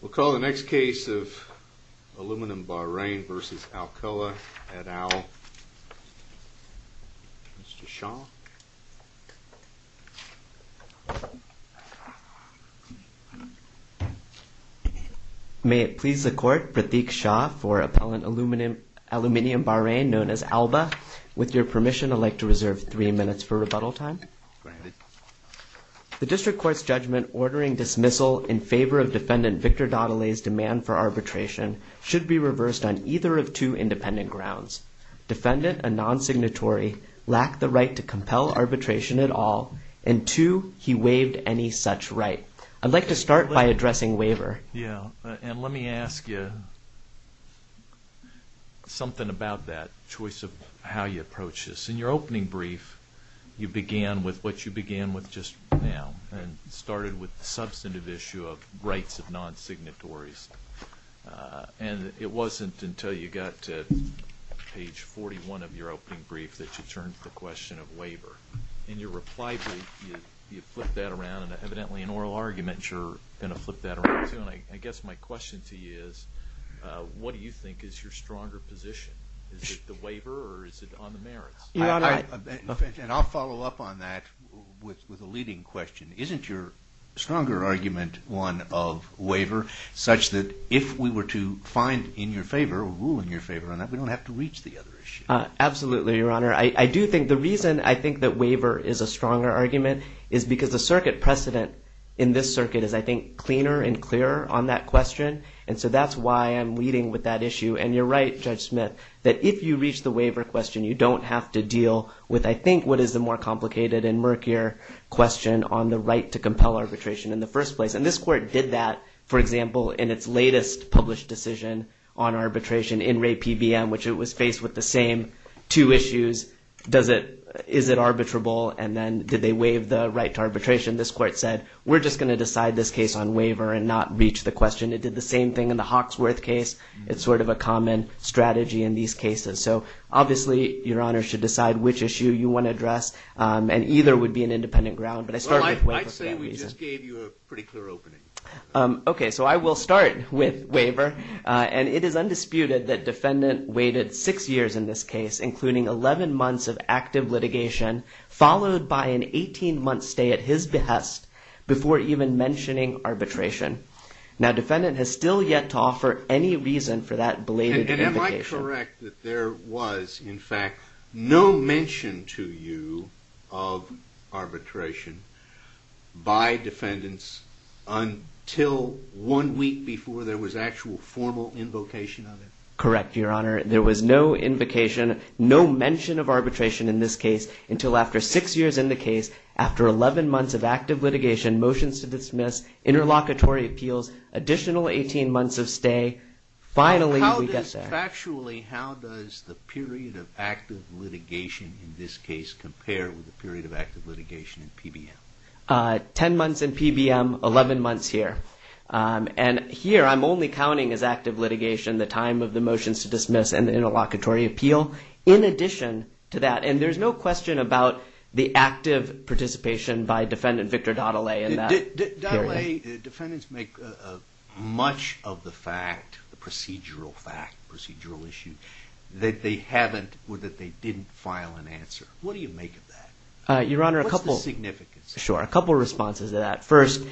We'll call the next case of Aluminum Bahrain v. Alcoa, et al. Mr. Shah. May it please the Court, Pratik Shah for Appellant Aluminum Bahrain, known as Alba. With your permission, I'd like to reserve three minutes for rebuttal time. The District Court's judgment ordering dismissal in favor of Defendant Victor Dottolay's demand for arbitration should be reversed on either of two independent grounds. Defendant, a non-signatory, lacked the right to compel arbitration at all, and two, he waived any such right. I'd like to start by addressing waiver. And let me ask you something about that choice of how you approach this. In your opening brief, you began with what you began with just now, and started with the substantive issue of rights of non-signatories. And it wasn't until you got to page 41 of your opening brief that you turned to the question of waiver. In your reply brief, you flipped that around, and evidently an oral argument you're going to flip that around to. And I guess my question to you is, what do you think is your stronger position? Is it the waiver or is it on the merits? And I'll follow up on that with a leading question. Isn't your stronger argument one of waiver, such that if we were to find in your favor or rule in your favor on that, we don't have to reach the other issue? Absolutely, Your Honor. I do think the reason I think that waiver is a stronger argument is because the circuit precedent in this circuit is, I think, cleaner and clearer on that question. And so that's why I'm leading with that issue. And you're right, Judge Smith, that if you reach the waiver question, you don't have to deal with, I think, what is the more complicated and murkier question on the right to compel arbitration in the first place. And this court did that, for example, in its latest published decision on arbitration in Ray PBM, which it was faced with the same two issues. Is it arbitrable? And then did they waive the right to arbitration? This court said, we're just going to decide this case on waiver and not reach the question. It did the same thing in the Hawksworth case. It's sort of a common strategy in these cases. So obviously, Your Honor should decide which issue you want to address. And either would be an independent ground. I'd say we just gave you a pretty clear opening. OK, so I will start with waiver. And it is undisputed that defendant waited six years in this case, including 11 months of active litigation, followed by an 18-month stay at his behest, before even mentioning arbitration. Now, defendant has still yet to offer any reason for that belated invocation. Am I correct that there was, in fact, no mention to you of arbitration by defendants until one week before there was actual formal invocation of it? Correct, Your Honor. There was no invocation, no mention of arbitration in this case until after six years in the case, after 11 months of active litigation, motions to dismiss, interlocutory appeals, additional 18 months of stay. Finally, we get there. Factually, how does the period of active litigation in this case compare with the period of active litigation in PBM? Ten months in PBM, 11 months here. And here, I'm only counting as active litigation the time of the motions to dismiss and the interlocutory appeal. In addition to that, and there's no question about the active participation by defendant Victor Dadale in that period. In a way, defendants make much of the fact, the procedural fact, procedural issue, that they haven't or that they didn't file an answer. What do you make of that? Your Honor, a couple – What's the significance? Sure. A couple responses to that. First,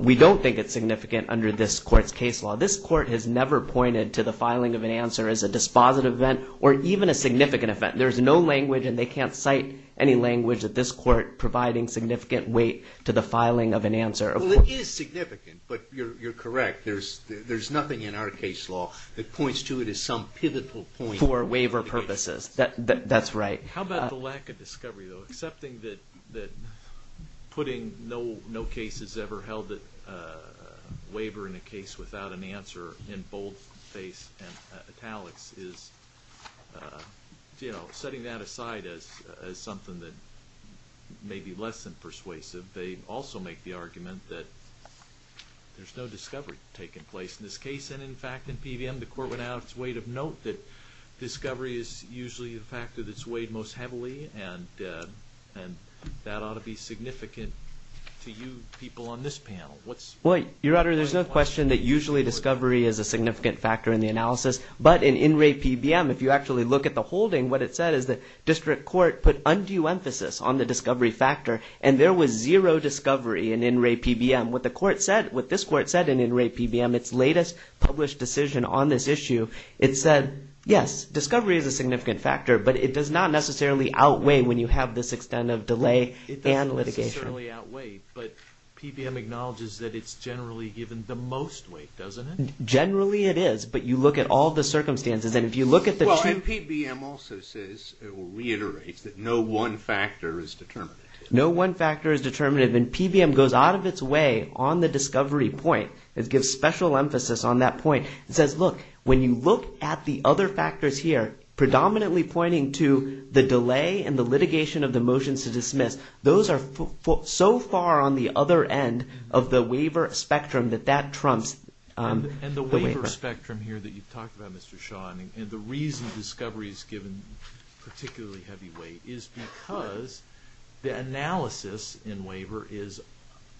we don't think it's significant under this Court's case law. This Court has never pointed to the filing of an answer as a dispositive event or even a significant event. There's no language and they can't cite any language at this Court providing significant weight to the filing of an answer. Well, it is significant, but you're correct. There's nothing in our case law that points to it as some pivotal point. For waiver purposes. That's right. How about the lack of discovery, though? Accepting that putting no cases ever held at waiver in a case without an answer in boldface and italics is, you know, setting that aside as something that may be less than persuasive. They also make the argument that there's no discovery taking place in this case. And in fact, in PBM, the Court went out of its weight of note that discovery is usually the factor that's weighed most heavily. And that ought to be significant to you people on this panel. Your Honor, there's no question that usually discovery is a significant factor in the analysis. But in In Re PBM, if you actually look at the holding, what it said is the District Court put undue emphasis on the discovery factor. And there was zero discovery in In Re PBM. What the Court said, what this Court said in In Re PBM, its latest published decision on this issue, it said, yes, discovery is a significant factor. But it does not necessarily outweigh when you have this extent of delay and litigation. It doesn't necessarily outweigh, but PBM acknowledges that it's generally given the most weight, doesn't it? Generally it is, but you look at all the circumstances. And if you look at the two... Well, and PBM also says, or reiterates, that no one factor is determinative. No one factor is determinative. And PBM goes out of its way on the discovery point. It gives special emphasis on that point. It says, look, when you look at the other factors here, predominantly pointing to the delay and the litigation of the motions to dismiss, those are so far on the other end of the waiver spectrum that that trumps the waiver. And the waiver spectrum here that you've talked about, Mr. Shaw, and the reason discovery is given particularly heavy weight is because the analysis in waiver is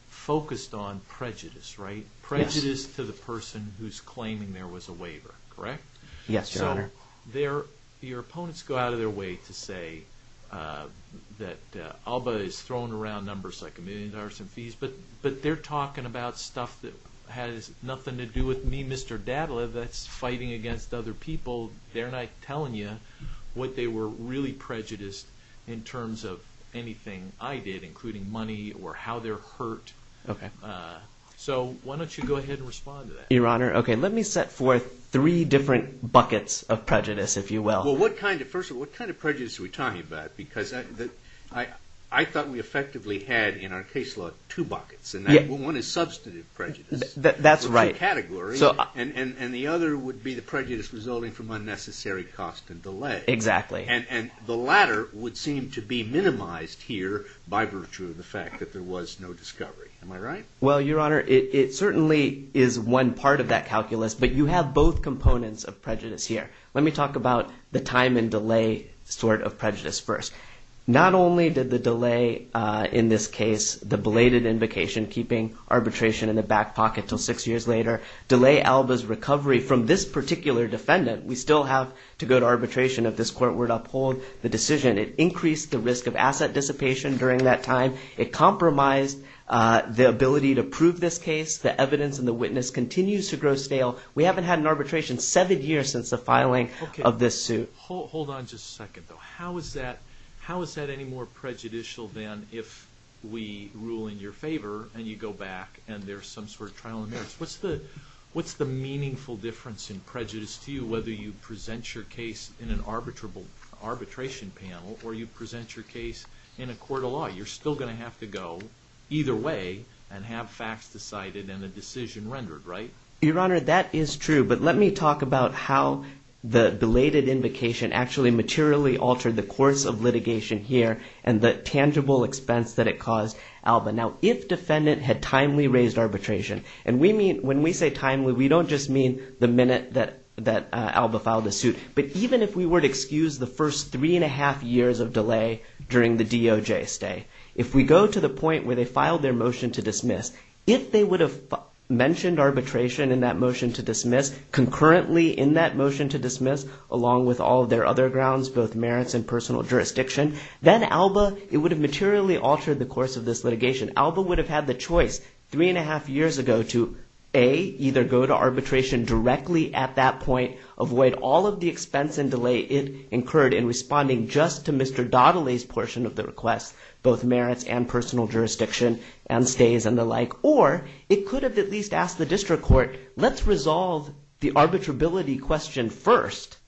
focused on prejudice, right? Yes. Prejudice to the person who's claiming there was a waiver, correct? Yes, Your Honor. So your opponents go out of their way to say that ALBA is throwing around numbers like a million dollars in fees, but they're talking about stuff that has nothing to do with me, Mr. Dadla, that's fighting against other people. They're not telling you what they were really prejudiced in terms of anything I did, including money or how they're hurt. Okay. So why don't you go ahead and respond to that? Your Honor, okay, let me set forth three different buckets of prejudice, if you will. Well, first of all, what kind of prejudice are we talking about? Because I thought we effectively had in our case law two buckets, and one is substantive prejudice. That's right. For two categories, and the other would be the prejudice resulting from unnecessary cost and delay. Exactly. And the latter would seem to be minimized here by virtue of the fact that there was no discovery. Am I right? Well, Your Honor, it certainly is one part of that calculus, but you have both components of prejudice here. Let me talk about the time and delay sort of prejudice first. Not only did the delay in this case, the belated invocation, keeping arbitration in the back pocket until six years later, delay Alba's recovery from this particular defendant. We still have to go to arbitration if this court were to uphold the decision. It increased the risk of asset dissipation during that time. It compromised the ability to prove this case. The evidence and the witness continues to grow stale. We haven't had an arbitration seven years since the filing of this suit. Okay. Hold on just a second, though. How is that any more prejudicial than if we rule in your favor, and you go back, and there's some sort of trial in there? What's the meaningful difference in prejudice to you, whether you present your case in an arbitration panel, or you present your case in a court of law? You're still going to have to go either way and have facts decided and a decision rendered, right? Your Honor, that is true, but let me talk about how the belated invocation actually materially altered the course of litigation here and the tangible expense that it caused Alba. Now, if defendant had timely raised arbitration, and when we say timely, we don't just mean the minute that Alba filed the suit, but even if we were to excuse the first three and a half years of delay during the DOJ stay, if we go to the point where they filed their motion to dismiss, if they would have mentioned arbitration in that motion to dismiss, concurrently in that motion to dismiss, along with all of their other grounds, both merits and personal jurisdiction, then Alba, it would have materially altered the course of this litigation. Alba would have had the choice three and a half years ago to, A, either go to arbitration directly at that point, avoid all of the expense and delay it incurred in responding just to Mr. Dottolay's portion of the request, both merits and personal jurisdiction and stays and the like, or it could have at least asked the district court, let's resolve the arbitrability question first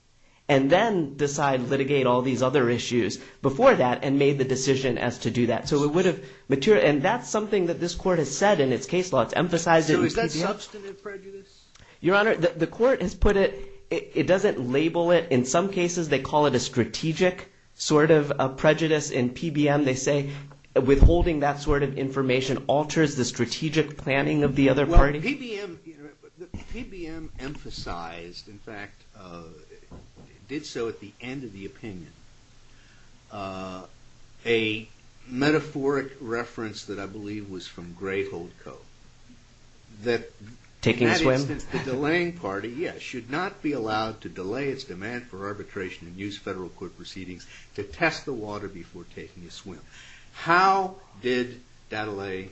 and then decide, litigate all these other issues before that and made the decision as to do that. So it would have, and that's something that this court has said in its case law. It's emphasized it. So is that substantive prejudice? Your Honor, the court has put it, it doesn't label it. In some cases they call it a strategic sort of prejudice in PBM. They say withholding that sort of information alters the strategic planning of the other party. Well, PBM, PBM emphasized, in fact, did so at the end of the opinion. A metaphoric reference that I believe was from Grayhold Co. Taking a swim? The delaying party, yes, should not be allowed to delay its demand for arbitration and use federal court proceedings to test the water before taking a swim. How did Dottolay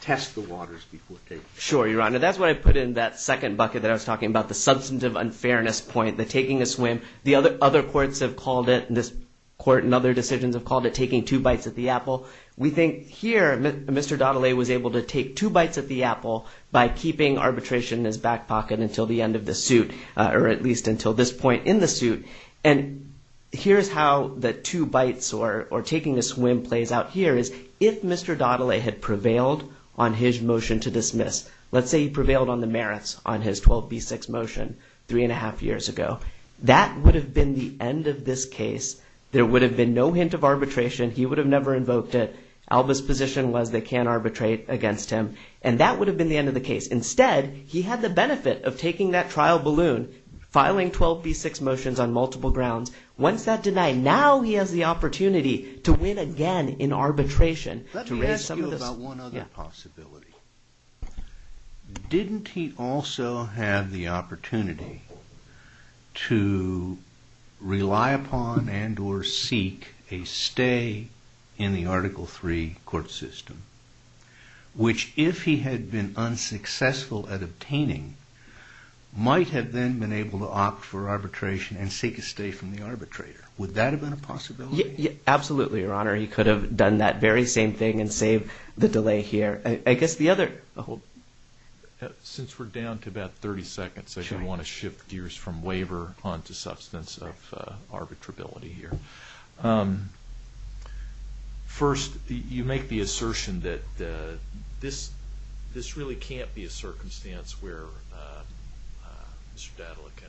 test the waters before taking a swim? Sure, Your Honor. That's what I put in that second bucket that I was talking about, the substantive unfairness point, the taking a swim. The other courts have called it, this court and other decisions have called it taking two bites at the apple. We think here Mr. Dottolay was able to take two bites at the apple by keeping arbitration in his back pocket until the end of the suit or at least until this point in the suit. And here's how the two bites or taking a swim plays out here is if Mr. Dottolay had prevailed on his motion to dismiss, let's say he prevailed on the merits on his 12B6 motion three and a half years ago, that would have been the end of this case. There would have been no hint of arbitration. He would have never invoked it. Alba's position was they can't arbitrate against him. And that would have been the end of the case. Instead, he had the benefit of taking that trial balloon, filing 12B6 motions on multiple grounds. Once that denied, now he has the opportunity to win again in arbitration. Let me ask you about one other possibility. Didn't he also have the opportunity to rely upon and or seek a stay in the Article III court system, which if he had been unsuccessful at obtaining might have then been able to opt for arbitration and seek a stay from the arbitrator? Would that have been a possibility? Absolutely, Your Honor. He could have done that very same thing and saved the delay here. I guess the other – Since we're down to about 30 seconds, I do want to shift gears from waiver onto substance of arbitrability here. First, you make the assertion that this really can't be a circumstance where Mr. Dottolay can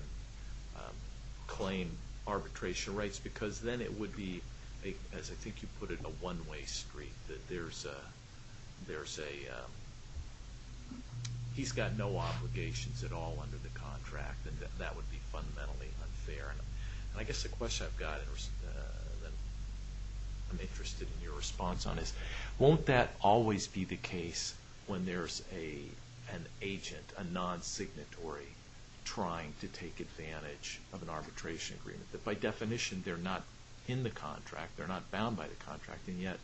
claim arbitration rights because then it would be, as I think you put it, a one-way street. That there's a – he's got no obligations at all under the contract, and that would be fundamentally unfair. And I guess the question I've got that I'm interested in your response on is, won't that always be the case when there's an agent, a non-signatory, trying to take advantage of an arbitration agreement? By definition, they're not in the contract, they're not bound by the contract, and yet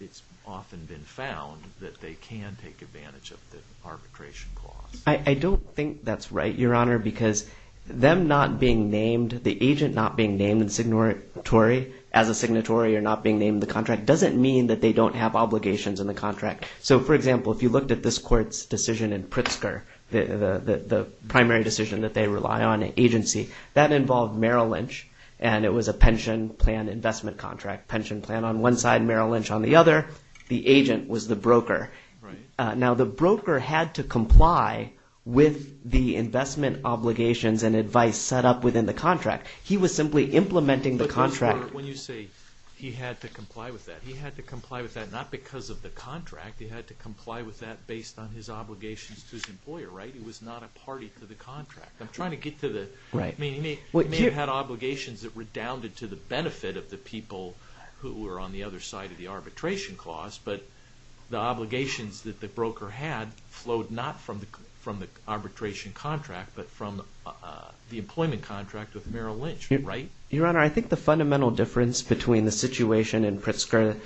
it's often been found that they can take advantage of the arbitration clause. I don't think that's right, Your Honor, because them not being named, the agent not being named in signatory as a signatory or not being named in the contract doesn't mean that they don't have obligations in the contract. So, for example, if you looked at this court's decision in Pritzker, the primary decision that they rely on in agency, that involved Merrill Lynch, and it was a pension plan investment contract. Pension plan on one side, Merrill Lynch on the other. The agent was the broker. Now, the broker had to comply with the investment obligations and advice set up within the contract. He was simply implementing the contract. But, Your Honor, when you say he had to comply with that, he had to comply with that not because of the contract. He had to comply with that based on his obligations to his employer, right? It was not a party to the contract. I'm trying to get to the, I mean, he may have had obligations that redounded to the benefit of the people who were on the other side of the arbitration clause, but the obligations that the broker had flowed not from the arbitration contract, but from the employment contract with Merrill Lynch, right? Your Honor, I think the fundamental difference between the situation in Pritzker,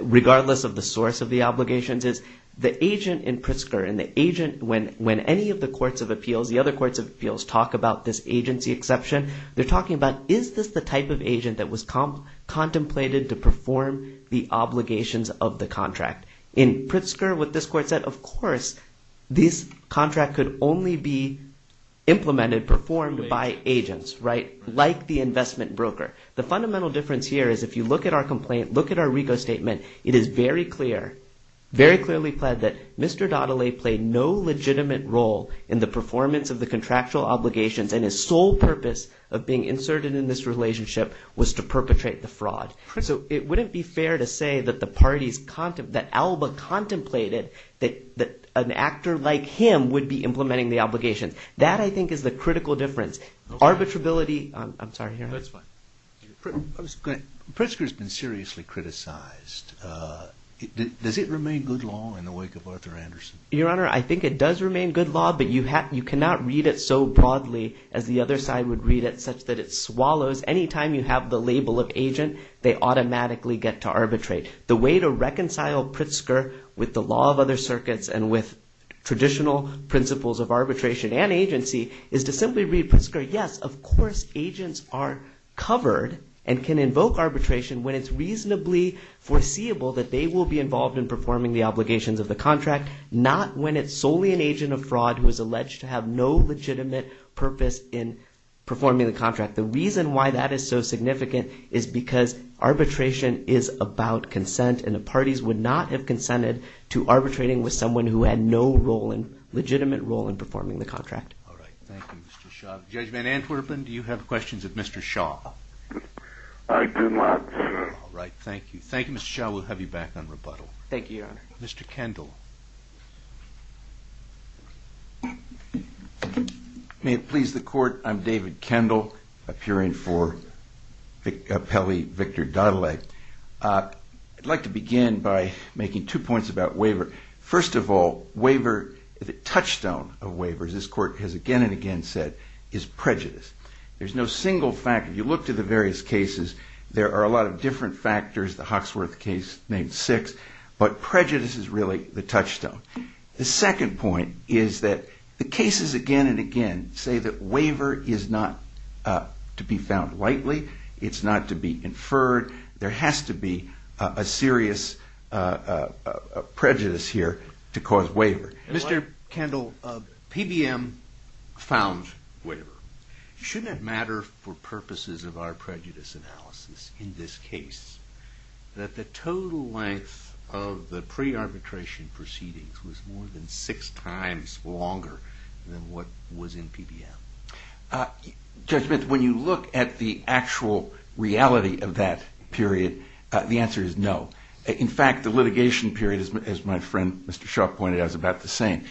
regardless of the source of the obligations, is the agent in Pritzker, and the agent, when any of the courts of appeals, the other courts of appeals, talk about this agency exception, they're talking about is this the type of agent that was contemplated to perform the obligations of the contract. In Pritzker, what this court said, of course, this contract could only be implemented, performed by agents, right? Like the investment broker. The fundamental difference here is if you look at our complaint, look at our RICO statement, it is very clear, very clearly pled that Mr. Daudelet played no legitimate role in the performance of the contractual obligations, and his sole purpose of being inserted in this relationship was to perpetrate the fraud. So it wouldn't be fair to say that the parties, that Alba contemplated that an actor like him would be implementing the obligations. That, I think, is the critical difference. Arbitrability, I'm sorry, Your Honor. No, it's fine. Pritzker's been seriously criticized. Does it remain good law in the wake of Arthur Anderson? Your Honor, I think it does remain good law, but you cannot read it so broadly as the other side would read it such that it swallows. Anytime you have the label of agent, they automatically get to arbitrate. The way to reconcile Pritzker with the law of other circuits and with traditional principles of arbitration and agency is to simply read Pritzker, yes, of course agents are covered and can invoke arbitration when it's reasonably foreseeable that they will be involved in performing the obligations of the contract, not when it's solely an agent of fraud who is alleged to have no legitimate purpose in performing the contract. The reason why that is so significant is because arbitration is about consent, and the parties would not have consented to arbitrating with someone who had no legitimate role in performing the contract. All right. Thank you, Mr. Shaw. Judge Van Antwerpen, do you have questions of Mr. Shaw? I do not, sir. All right. Thank you. Thank you, Mr. Shaw. We'll have you back on rebuttal. Thank you, Your Honor. Mr. Kendall. May it please the Court, I'm David Kendall, appearing for Pele, Victor Doddleigh. I'd like to begin by making two points about waiver. First of all, waiver, the touchstone of waiver, as this Court has again and again said, is prejudice. There's no single fact. If you look to the various cases, there are a lot of different factors. The Hawksworth case named six. But prejudice is really the touchstone. The second point is that the cases again and again say that waiver is not to be found lightly. It's not to be inferred. There has to be a serious prejudice here to cause waiver. Mr. Kendall, PBM found waiver. Shouldn't it matter for purposes of our prejudice analysis in this case that the total length of the pre-arbitration proceedings was more than six times longer than what was in PBM? Judge Mintz, when you look at the actual reality of that period, the answer is no. In fact, the litigation period, as my friend Mr. Shaw pointed out, is about the same.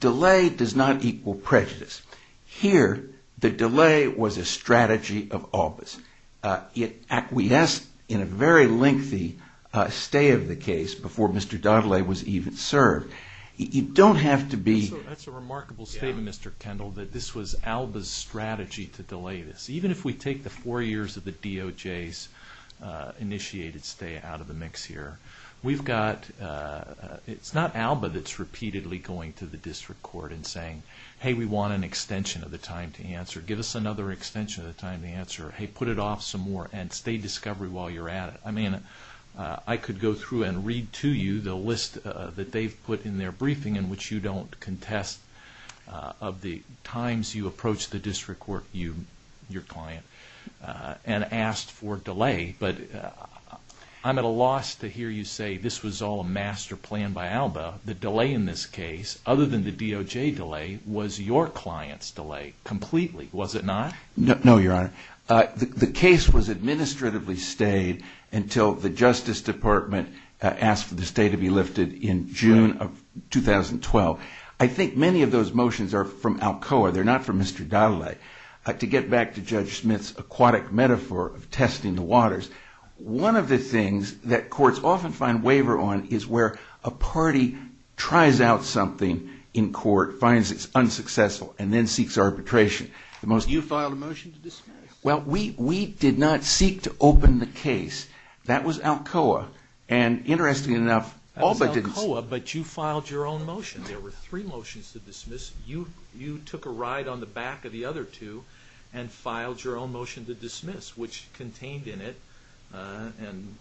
Delay does not equal prejudice. Here, the delay was a strategy of Alba's. It acquiesced in a very lengthy stay of the case before Mr. Doddleigh was even served. You don't have to be... That's a remarkable statement, Mr. Kendall, that this was Alba's strategy to delay this. Even if we take the four years of the DOJ's initiated stay out of the mix here, we've got... It's not Alba that's repeatedly going to the district court and saying, hey, we want an extension of the time to answer. Give us another extension of the time to answer. Hey, put it off some more and stay discovery while you're at it. I mean, I could go through and read to you the list that they've put in their briefing in which you don't contest of the times you approached the district court, your client, and asked for delay, but I'm at a loss to hear you say this was all a master plan by Alba. The delay in this case, other than the DOJ delay, was your client's delay completely, was it not? No, Your Honor. The case was administratively stayed until the Justice Department asked for the stay to be lifted in June of 2012. I think many of those motions are from Alcoa. They're not from Mr. Dottole. To get back to Judge Smith's aquatic metaphor of testing the waters, one of the things that courts often find waiver on is where a party tries out something in court, finds it's unsuccessful, and then seeks arbitration. You filed a motion to dismiss. Well, we did not seek to open the case. That was Alcoa, and interestingly enough, Alba didn't. That was Alcoa, but you filed your own motion. There were three motions to dismiss. You took a ride on the back of the other two and filed your own motion to dismiss, which contained in it, and,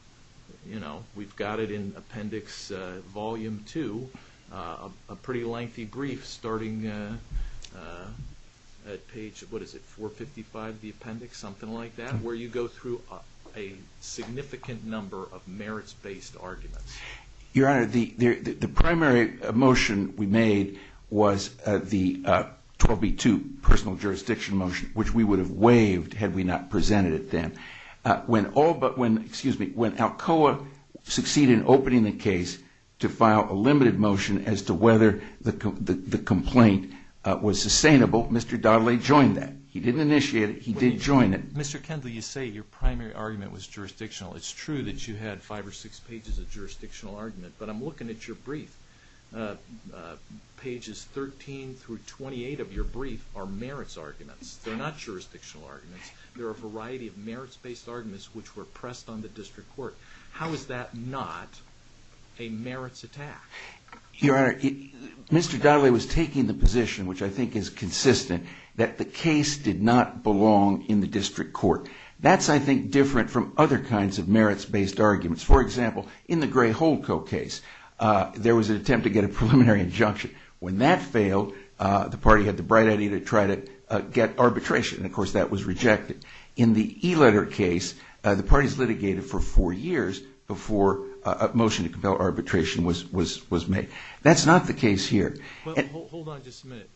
you know, we've got it in Appendix Volume 2, a pretty lengthy brief, starting at page, what is it, 455 of the appendix, something like that, where you go through a significant number of merits-based arguments. Your Honor, the primary motion we made was the 12b-2 personal jurisdiction motion, which we would have waived had we not presented it then. When Alcoa succeeded in opening the case to file a limited motion as to whether the complaint was sustainable, Mr. Daudet joined that. He didn't initiate it. He did join it. Mr. Kendall, you say your primary argument was jurisdictional. It's true that you had five or six pages of jurisdictional argument, but I'm looking at your brief. Pages 13 through 28 of your brief are merits arguments. They're not jurisdictional arguments. They're a variety of merits-based arguments which were pressed on the district court. How is that not a merits attack? Your Honor, Mr. Daudet was taking the position, which I think is consistent, that the case did not belong in the district court. That's, I think, different from other kinds of merits-based arguments. For example, in the Gray-Holco case, there was an attempt to get a preliminary injunction. When that failed, the party had the bright idea to try to get arbitration. Of course, that was rejected. In the e-letter case, the parties litigated for four years before a motion to compel arbitration was made. That's not the case here. Hold on just a minute.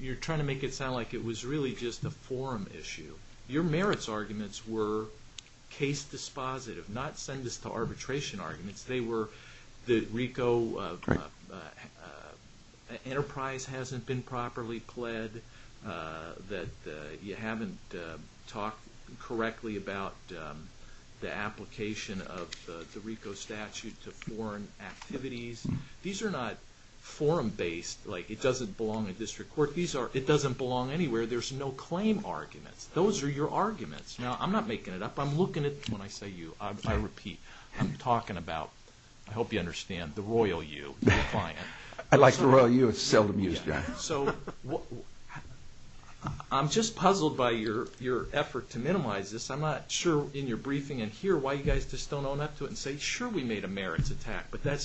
You're trying to make it sound like it was really just a forum issue. Your merits arguments were case dispositive, not send us to arbitration arguments. The RICO enterprise hasn't been properly pled. You haven't talked correctly about the application of the RICO statute to foreign activities. These are not forum-based. It doesn't belong in the district court. It doesn't belong anywhere. There's no claim arguments. Those are your arguments. Now, I'm not making it up. I'm looking at when I say you. I repeat. I'm talking about, I hope you understand, the Royal U, the client. I like the Royal U. It's a seldom-used guy. I'm just puzzled by your effort to minimize this. I'm not sure in your briefing in here why you guys just don't own up to it and say, sure, we made a merits attack, but that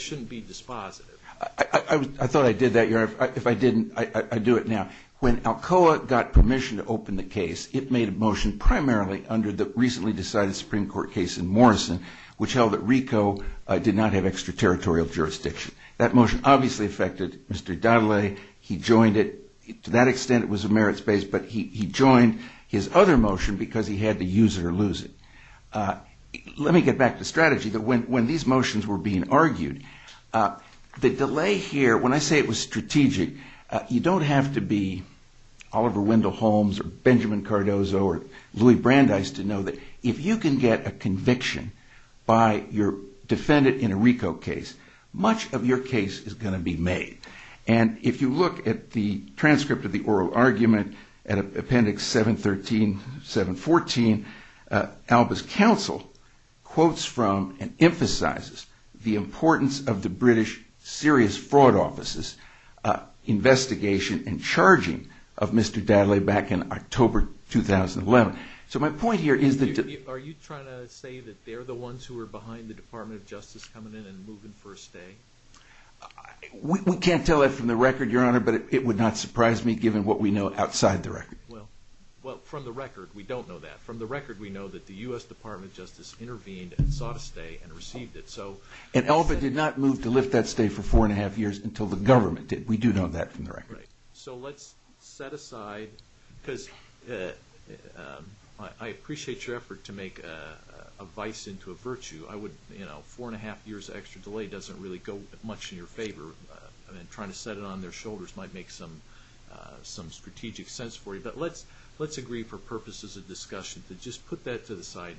shouldn't be dispositive. I thought I did that. If I didn't, I'd do it now. When ALCOA got permission to open the case, it made a motion primarily under the recently decided Supreme Court case in Morrison, which held that RICO did not have extraterritorial jurisdiction. That motion obviously affected Mr. Dadele. He joined it. To that extent, it was a merits-based, but he joined his other motion because he had to use it or lose it. Let me get back to strategy. When these motions were being argued, the delay here, when I say it was strategic, you don't have to be Oliver Wendell Holmes or Benjamin Cardozo or Louis Brandeis to know that if you can get a conviction by your defendant in a RICO case, much of your case is going to be made. If you look at the transcript of the oral argument at Appendix 713, 714, Alba's counsel quotes from and emphasizes the importance of the British serious fraud offices investigation and charging of Mr. Dadele back in October 2011. So my point here is that... Are you trying to say that they're the ones who are behind the Department of Justice coming in and moving for a stay? We can't tell that from the record, Your Honor, but it would not surprise me given what we know outside the record. Well, from the record, we don't know that. From the record, we know that the U.S. Department of Justice intervened and sought a stay and received it. And Alba did not move to lift that stay for four and a half years until the government did. We do know that from the record. Right. So let's set aside, because I appreciate your effort to make a vice into a virtue. Four and a half years of extra delay doesn't really go much in your favor. I mean, trying to set it on their shoulders might make some strategic sense for you, but let's agree for purposes of discussion to just put that to the side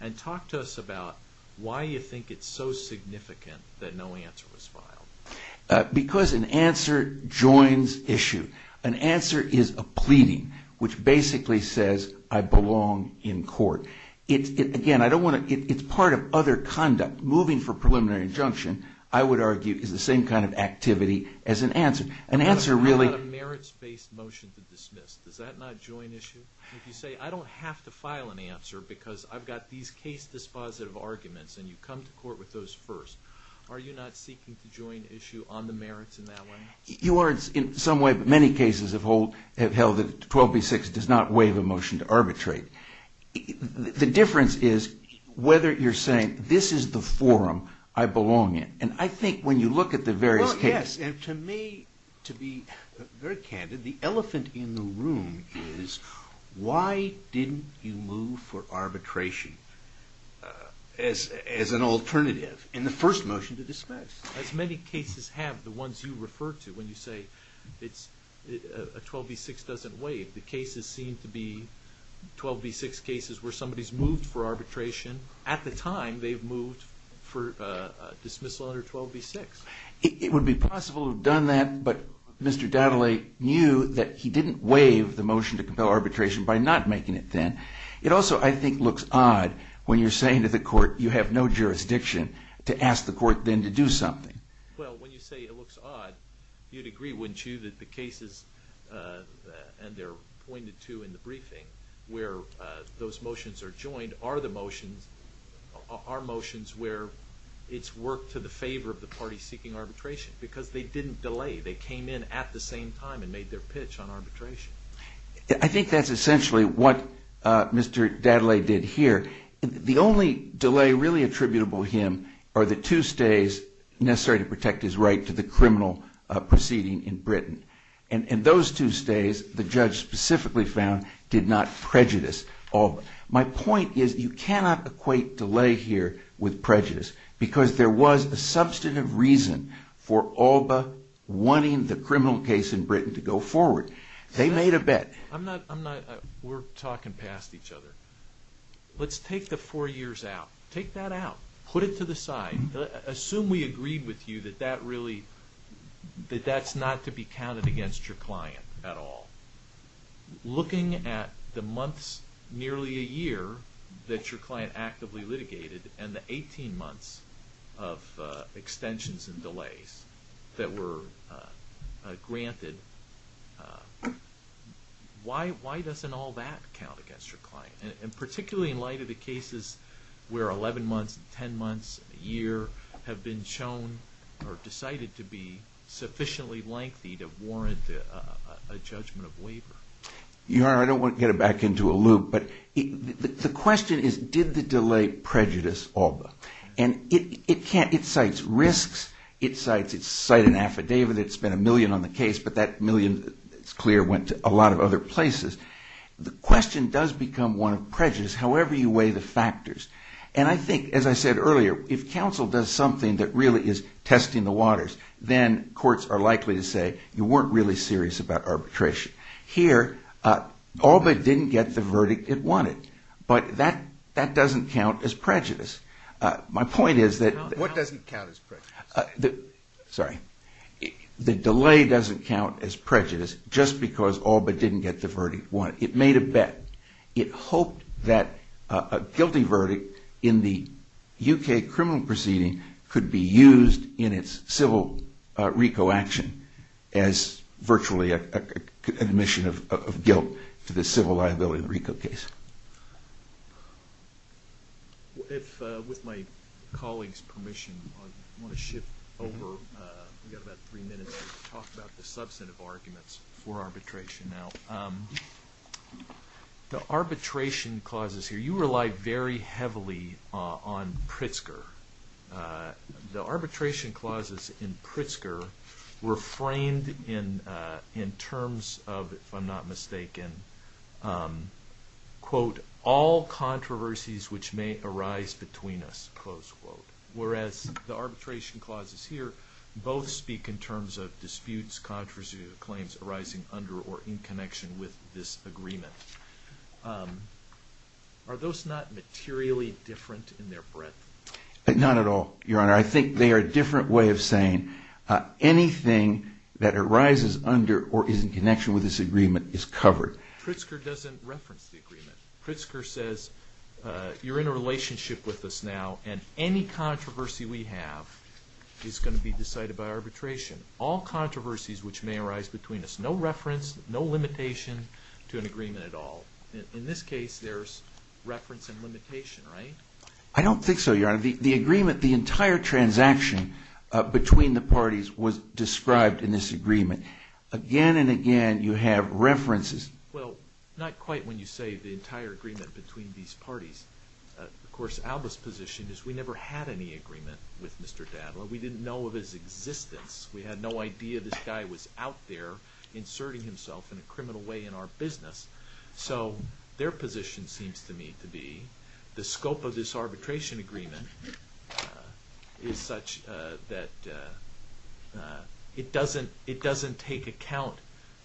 and talk to us about why you think it's so significant that no answer was filed. Because an answer joins issue. An answer is a pleading, which basically says, I belong in court. Again, I don't want to... It's part of other conduct. Moving for preliminary injunction, I would argue, is the same kind of activity as an answer. An answer really... How about a merits-based motion to dismiss? Does that not join issue? If you say, I don't have to file an answer because I've got these case-dispositive arguments and you come to court with those first. Are you not seeking to join issue on the merits in that way? You are in some way, but many cases have held that 12b-6 does not waive a motion to arbitrate. The difference is whether you're saying, this is the forum I belong in. And I think when you look at the various cases... Why didn't you move for arbitration as an alternative in the first motion to dismiss? As many cases have, the ones you refer to, when you say a 12b-6 doesn't waive. The cases seem to be 12b-6 cases where somebody's moved for arbitration. At the time, they've moved for dismissal under 12b-6. It would be possible to have done that, but Mr. Dadaly knew that he didn't waive the motion to compel arbitration by not making it then. It also, I think, looks odd when you're saying to the court, you have no jurisdiction to ask the court then to do something. Well, when you say it looks odd, you'd agree, wouldn't you, that the cases, and they're pointed to in the briefing where those motions are joined, are motions where it's worked to the favor of the party seeking arbitration. Because they didn't delay. They came in at the same time and made their pitch on arbitration. I think that's essentially what Mr. Dadaly did here. The only delay really attributable to him are the two stays necessary to protect his right to the criminal proceeding in Britain. And those two stays, the judge specifically found, did not prejudice all of them. My point is you cannot equate delay here with prejudice because there was a substantive reason for ALBA wanting the criminal case in Britain to go forward. They made a bet. We're talking past each other. Let's take the four years out. Take that out. Put it to the side. Assume we agreed with you that that's not to be counted against your client at all. Looking at the months, nearly a year, that your client actively litigated and the 18 months of extensions and delays that were granted, why doesn't all that count against your client? And particularly in light of the cases where 11 months, 10 months, a year, have been shown or decided to be sufficiently lengthy to warrant a judgment of waiver? Your Honor, I don't want to get it back into a loop, but the question is did the delay prejudice ALBA? And it cites risks. It cites an affidavit. It's spent a million on the case, but that million, it's clear, went to a lot of other places. The question does become one of prejudice, however you weigh the factors. And I think, as I said earlier, if counsel does something that really is testing the waters, then courts are likely to say you weren't really serious about arbitration. Here, ALBA didn't get the verdict it wanted, but that doesn't count as prejudice. My point is that... What doesn't count as prejudice? Sorry. The delay doesn't count as prejudice just because ALBA didn't get the verdict it wanted. It made a bet. It hoped that a guilty verdict in the U.K. criminal proceeding could be used in its civil RICO action as virtually an admission of guilt to the civil liability of the RICO case. With my colleague's permission, I want to shift over. We've got about three minutes to talk about the substantive arguments for arbitration. Now, the arbitration clauses here, you rely very heavily on Pritzker. The arbitration clauses in Pritzker were framed in terms of, if I'm not mistaken, quote, all controversies which may arise between us, close quote, whereas the arbitration clauses here both speak in terms of disputes, controversies, or claims arising under or in connection with this agreement. Are those not materially different in their breadth? Not at all, Your Honor. I think they are a different way of saying anything that arises under or is in connection with this agreement is covered. Pritzker doesn't reference the agreement. Pritzker says, you're in a relationship with us now, and any controversy we have is going to be decided by arbitration. All controversies which may arise between us, no reference, no limitation to an agreement at all. In this case, there's reference and limitation, right? I don't think so, Your Honor. The agreement, the entire transaction between the parties was described in this agreement. Again and again, you have references. Well, not quite when you say the entire agreement between these parties. Of course, Alba's position is we never had any agreement with Mr. Dadel. We didn't know of his existence. We had no idea this guy was out there inserting himself in a criminal way in our business. So their position seems to me to be the scope of this arbitration agreement is such that it doesn't take account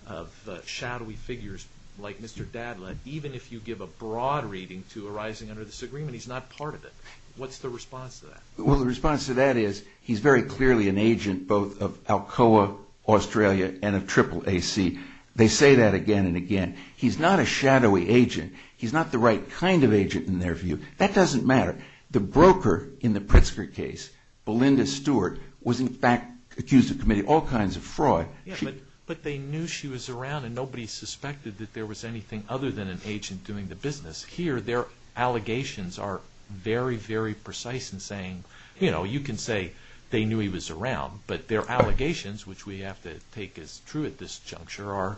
of shadowy figures like Mr. Dadel. Even if you give a broad reading to arising under this agreement, he's not part of it. What's the response to that? Well, the response to that is he's very clearly an agent both of Alcoa Australia and of Triple AC. They say that again and again. He's not a shadowy agent. He's not the right kind of agent in their view. That doesn't matter. The broker in the Pritzker case, Belinda Stewart, was in fact accused of committing all kinds of fraud. But they knew she was around and nobody suspected that there was anything other than an agent doing the business. Here their allegations are very, very precise in saying, you know, you can say they knew he was around, but their allegations, which we have to take as true at this juncture, are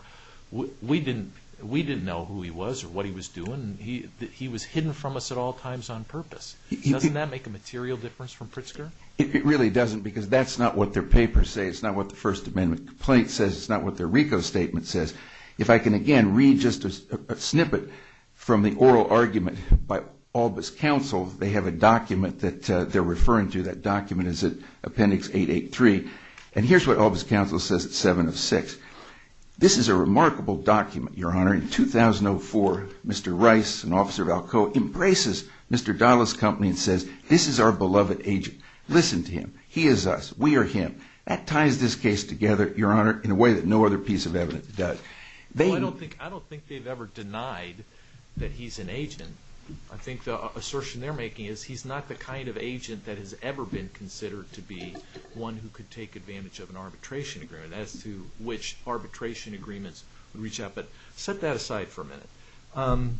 we didn't know who he was or what he was doing. He was hidden from us at all times on purpose. Doesn't that make a material difference from Pritzker? It really doesn't because that's not what their papers say. It's not what the First Amendment complaint says. It's not what their RICO statement says. If I can, again, read just a snippet from the oral argument by Albus Counsel, they have a document that they're referring to. That document is at Appendix 883. And here's what Albus Counsel says at 7 of 6. This is a remarkable document, Your Honor. In 2004, Mr. Rice, an officer of Alcoa, embraces Mr. Dahle's company and says, this is our beloved agent. Listen to him. He is us. We are him. That ties this case together, Your Honor, in a way that no other piece of evidence does. I don't think they've ever denied that he's an agent. I think the assertion they're making is he's not the kind of agent that has ever been considered to be one who could take advantage of an arbitration agreement, as to which arbitration agreements would reach out. But set that aside for a minute.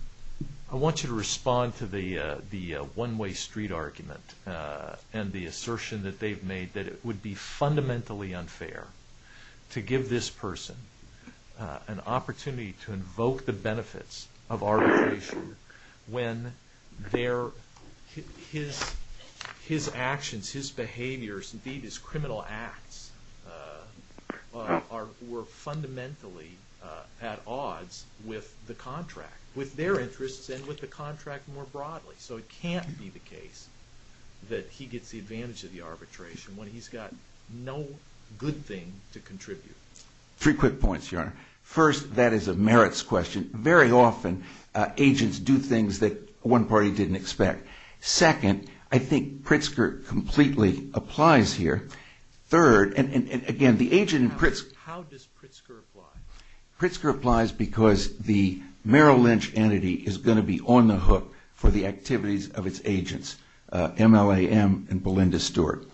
I want you to respond to the one-way street argument and the assertion that they've made that it would be fundamentally unfair to give this person an opportunity to invoke the benefits of arbitration when his actions, his behaviors, indeed his criminal acts, were fundamentally at odds with the contract, So it can't be the case that he gets the advantage of the arbitration when he's got no good thing to contribute. Three quick points, Your Honor. First, that is a merits question. Very often, agents do things that one party didn't expect. Second, I think Pritzker completely applies here. Third, and again, the agent in Pritzker... How does Pritzker apply? Pritzker applies because the Merrill Lynch entity is going to be on the hook for the activities of its agents, MLAM and Belinda Stewart.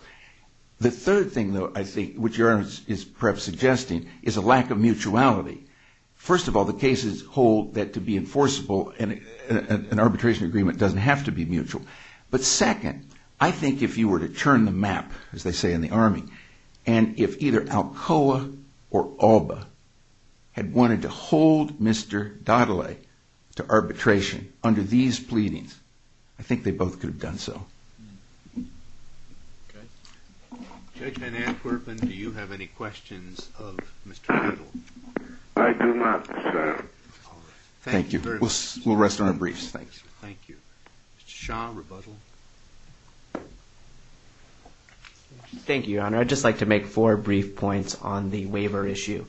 The third thing, though, I think, which Your Honor is perhaps suggesting, is a lack of mutuality. First of all, the cases hold that to be enforceable, an arbitration agreement doesn't have to be mutual. But second, I think if you were to turn the map, as they say in the Army, and if either Alcoa or Alba had wanted to hold Mr. Daudelet to arbitration under these pleadings, I think they both could have done so. Okay. Judge Van Antwerpen, do you have any questions of Mr. Riddle? I do not, sir. Thank you. We'll rest on our briefs. Thanks. Thank you. Mr. Shaw, rebuttal. Thank you, Your Honor. I'd just like to make four brief points on the waiver issue.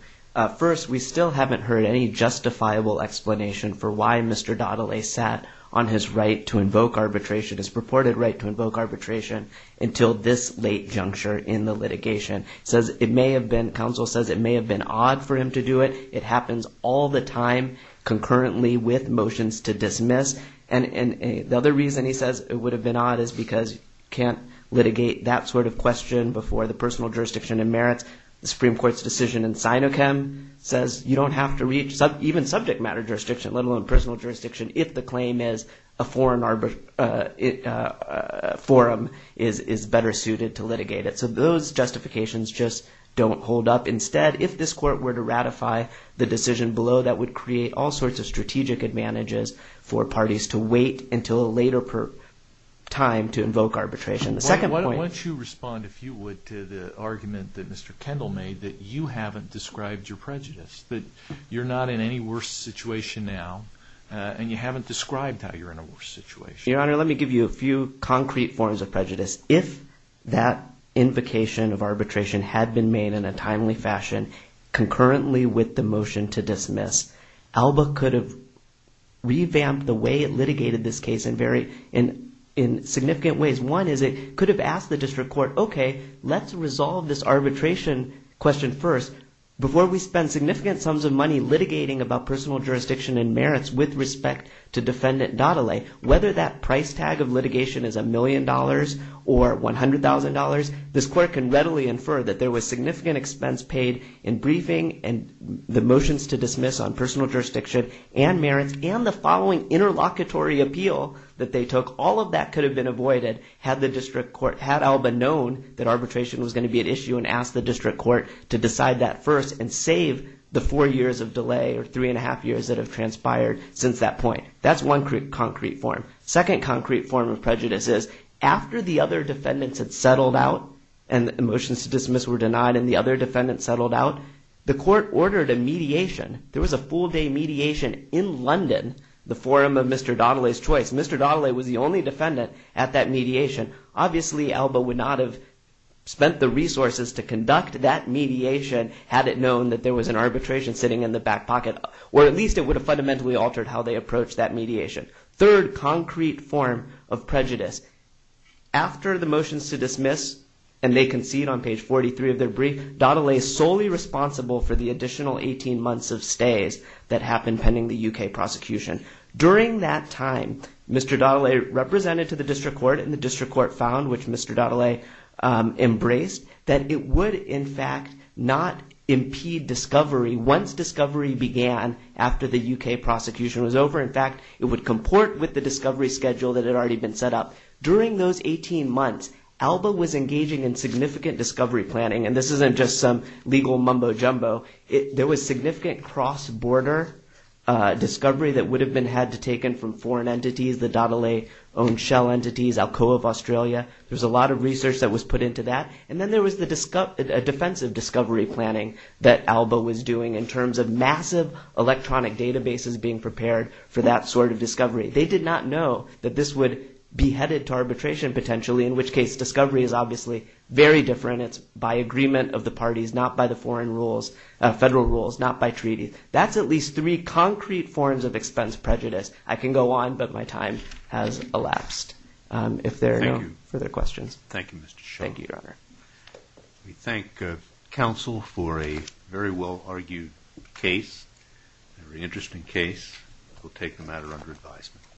First, we still haven't heard any justifiable explanation for why Mr. Daudelet sat on his right to invoke arbitration, his purported right to invoke arbitration, until this late juncture in the litigation. Counsel says it may have been odd for him to do it. It happens all the time concurrently with motions to dismiss. And the other reason he says it would have been odd is because you can't litigate that sort of question before the personal jurisdiction and merits. The Supreme Court's decision in Sinochem says you don't have to reach even subject matter jurisdiction, let alone personal jurisdiction, if the claim is a foreign forum is better suited to litigate it. So those justifications just don't hold up. Instead, if this court were to ratify the decision below, that would create all sorts of strategic advantages for parties to wait until a later time to invoke arbitration. Once you respond, if you would, to the argument that Mr. Kendall made, that you haven't described your prejudice, that you're not in any worse situation now, and you haven't described how you're in a worse situation. Your Honor, let me give you a few concrete forms of prejudice. If that invocation of arbitration had been made in a timely fashion, concurrently with the motion to dismiss, ALBA could have revamped the way it litigated this case in significant ways. One is it could have asked the district court, okay, let's resolve this arbitration question first. Before we spend significant sums of money litigating about personal jurisdiction and merits with respect to Defendant Daudelet, whether that price tag of litigation is a million dollars or $100,000, this court can readily infer that there was significant expense paid in briefing and the motions to dismiss on personal jurisdiction and merits and the following interlocutory appeal that they took. All of that could have been avoided had ALBA known that arbitration was going to be an issue and asked the district court to decide that first and save the four years of delay or three and a half years that have transpired since that point. That's one concrete form. Second concrete form of prejudice is after the other defendants had settled out and the motions to dismiss were denied and the other defendants settled out, the court ordered a mediation. There was a full day mediation in London, the forum of Mr. Daudelet's choice. Mr. Daudelet was the only defendant at that mediation. Obviously, ALBA would not have spent the resources to conduct that mediation had it known that there was an arbitration sitting in the back pocket or at least it would have fundamentally altered how they approached that mediation. Third concrete form of prejudice, after the motions to dismiss and they concede on page 43 of their brief, Daudelet is solely responsible for the additional 18 months of stays that happened pending the UK prosecution. During that time, Mr. Daudelet represented to the district court and the district court found which Mr. Daudelet embraced that it would in fact not impede discovery once discovery began after the UK prosecution was over. In fact, it would comport with the discovery schedule that had already been set up. During those 18 months, ALBA was engaging in significant discovery planning and this isn't just some legal mumbo-jumbo. There was significant cross-border discovery that would have been had to taken from foreign entities, the Daudelet-owned shell entities, Alcoa of Australia. There's a lot of research that was put into that and then there was a defensive discovery planning that ALBA was doing in terms of massive electronic databases being prepared for that sort of discovery. They did not know that this would be headed to arbitration potentially in which case discovery is obviously very different. It's by agreement of the parties, not by the foreign rules, federal rules, not by treaty. That's at least three concrete forms of expense prejudice. I can go on, but my time has elapsed. If there are no further questions. Thank you, Mr. Shulman. Thank you, Your Honor. We thank counsel for a very well-argued case, very interesting case. We'll take the matter under advisement.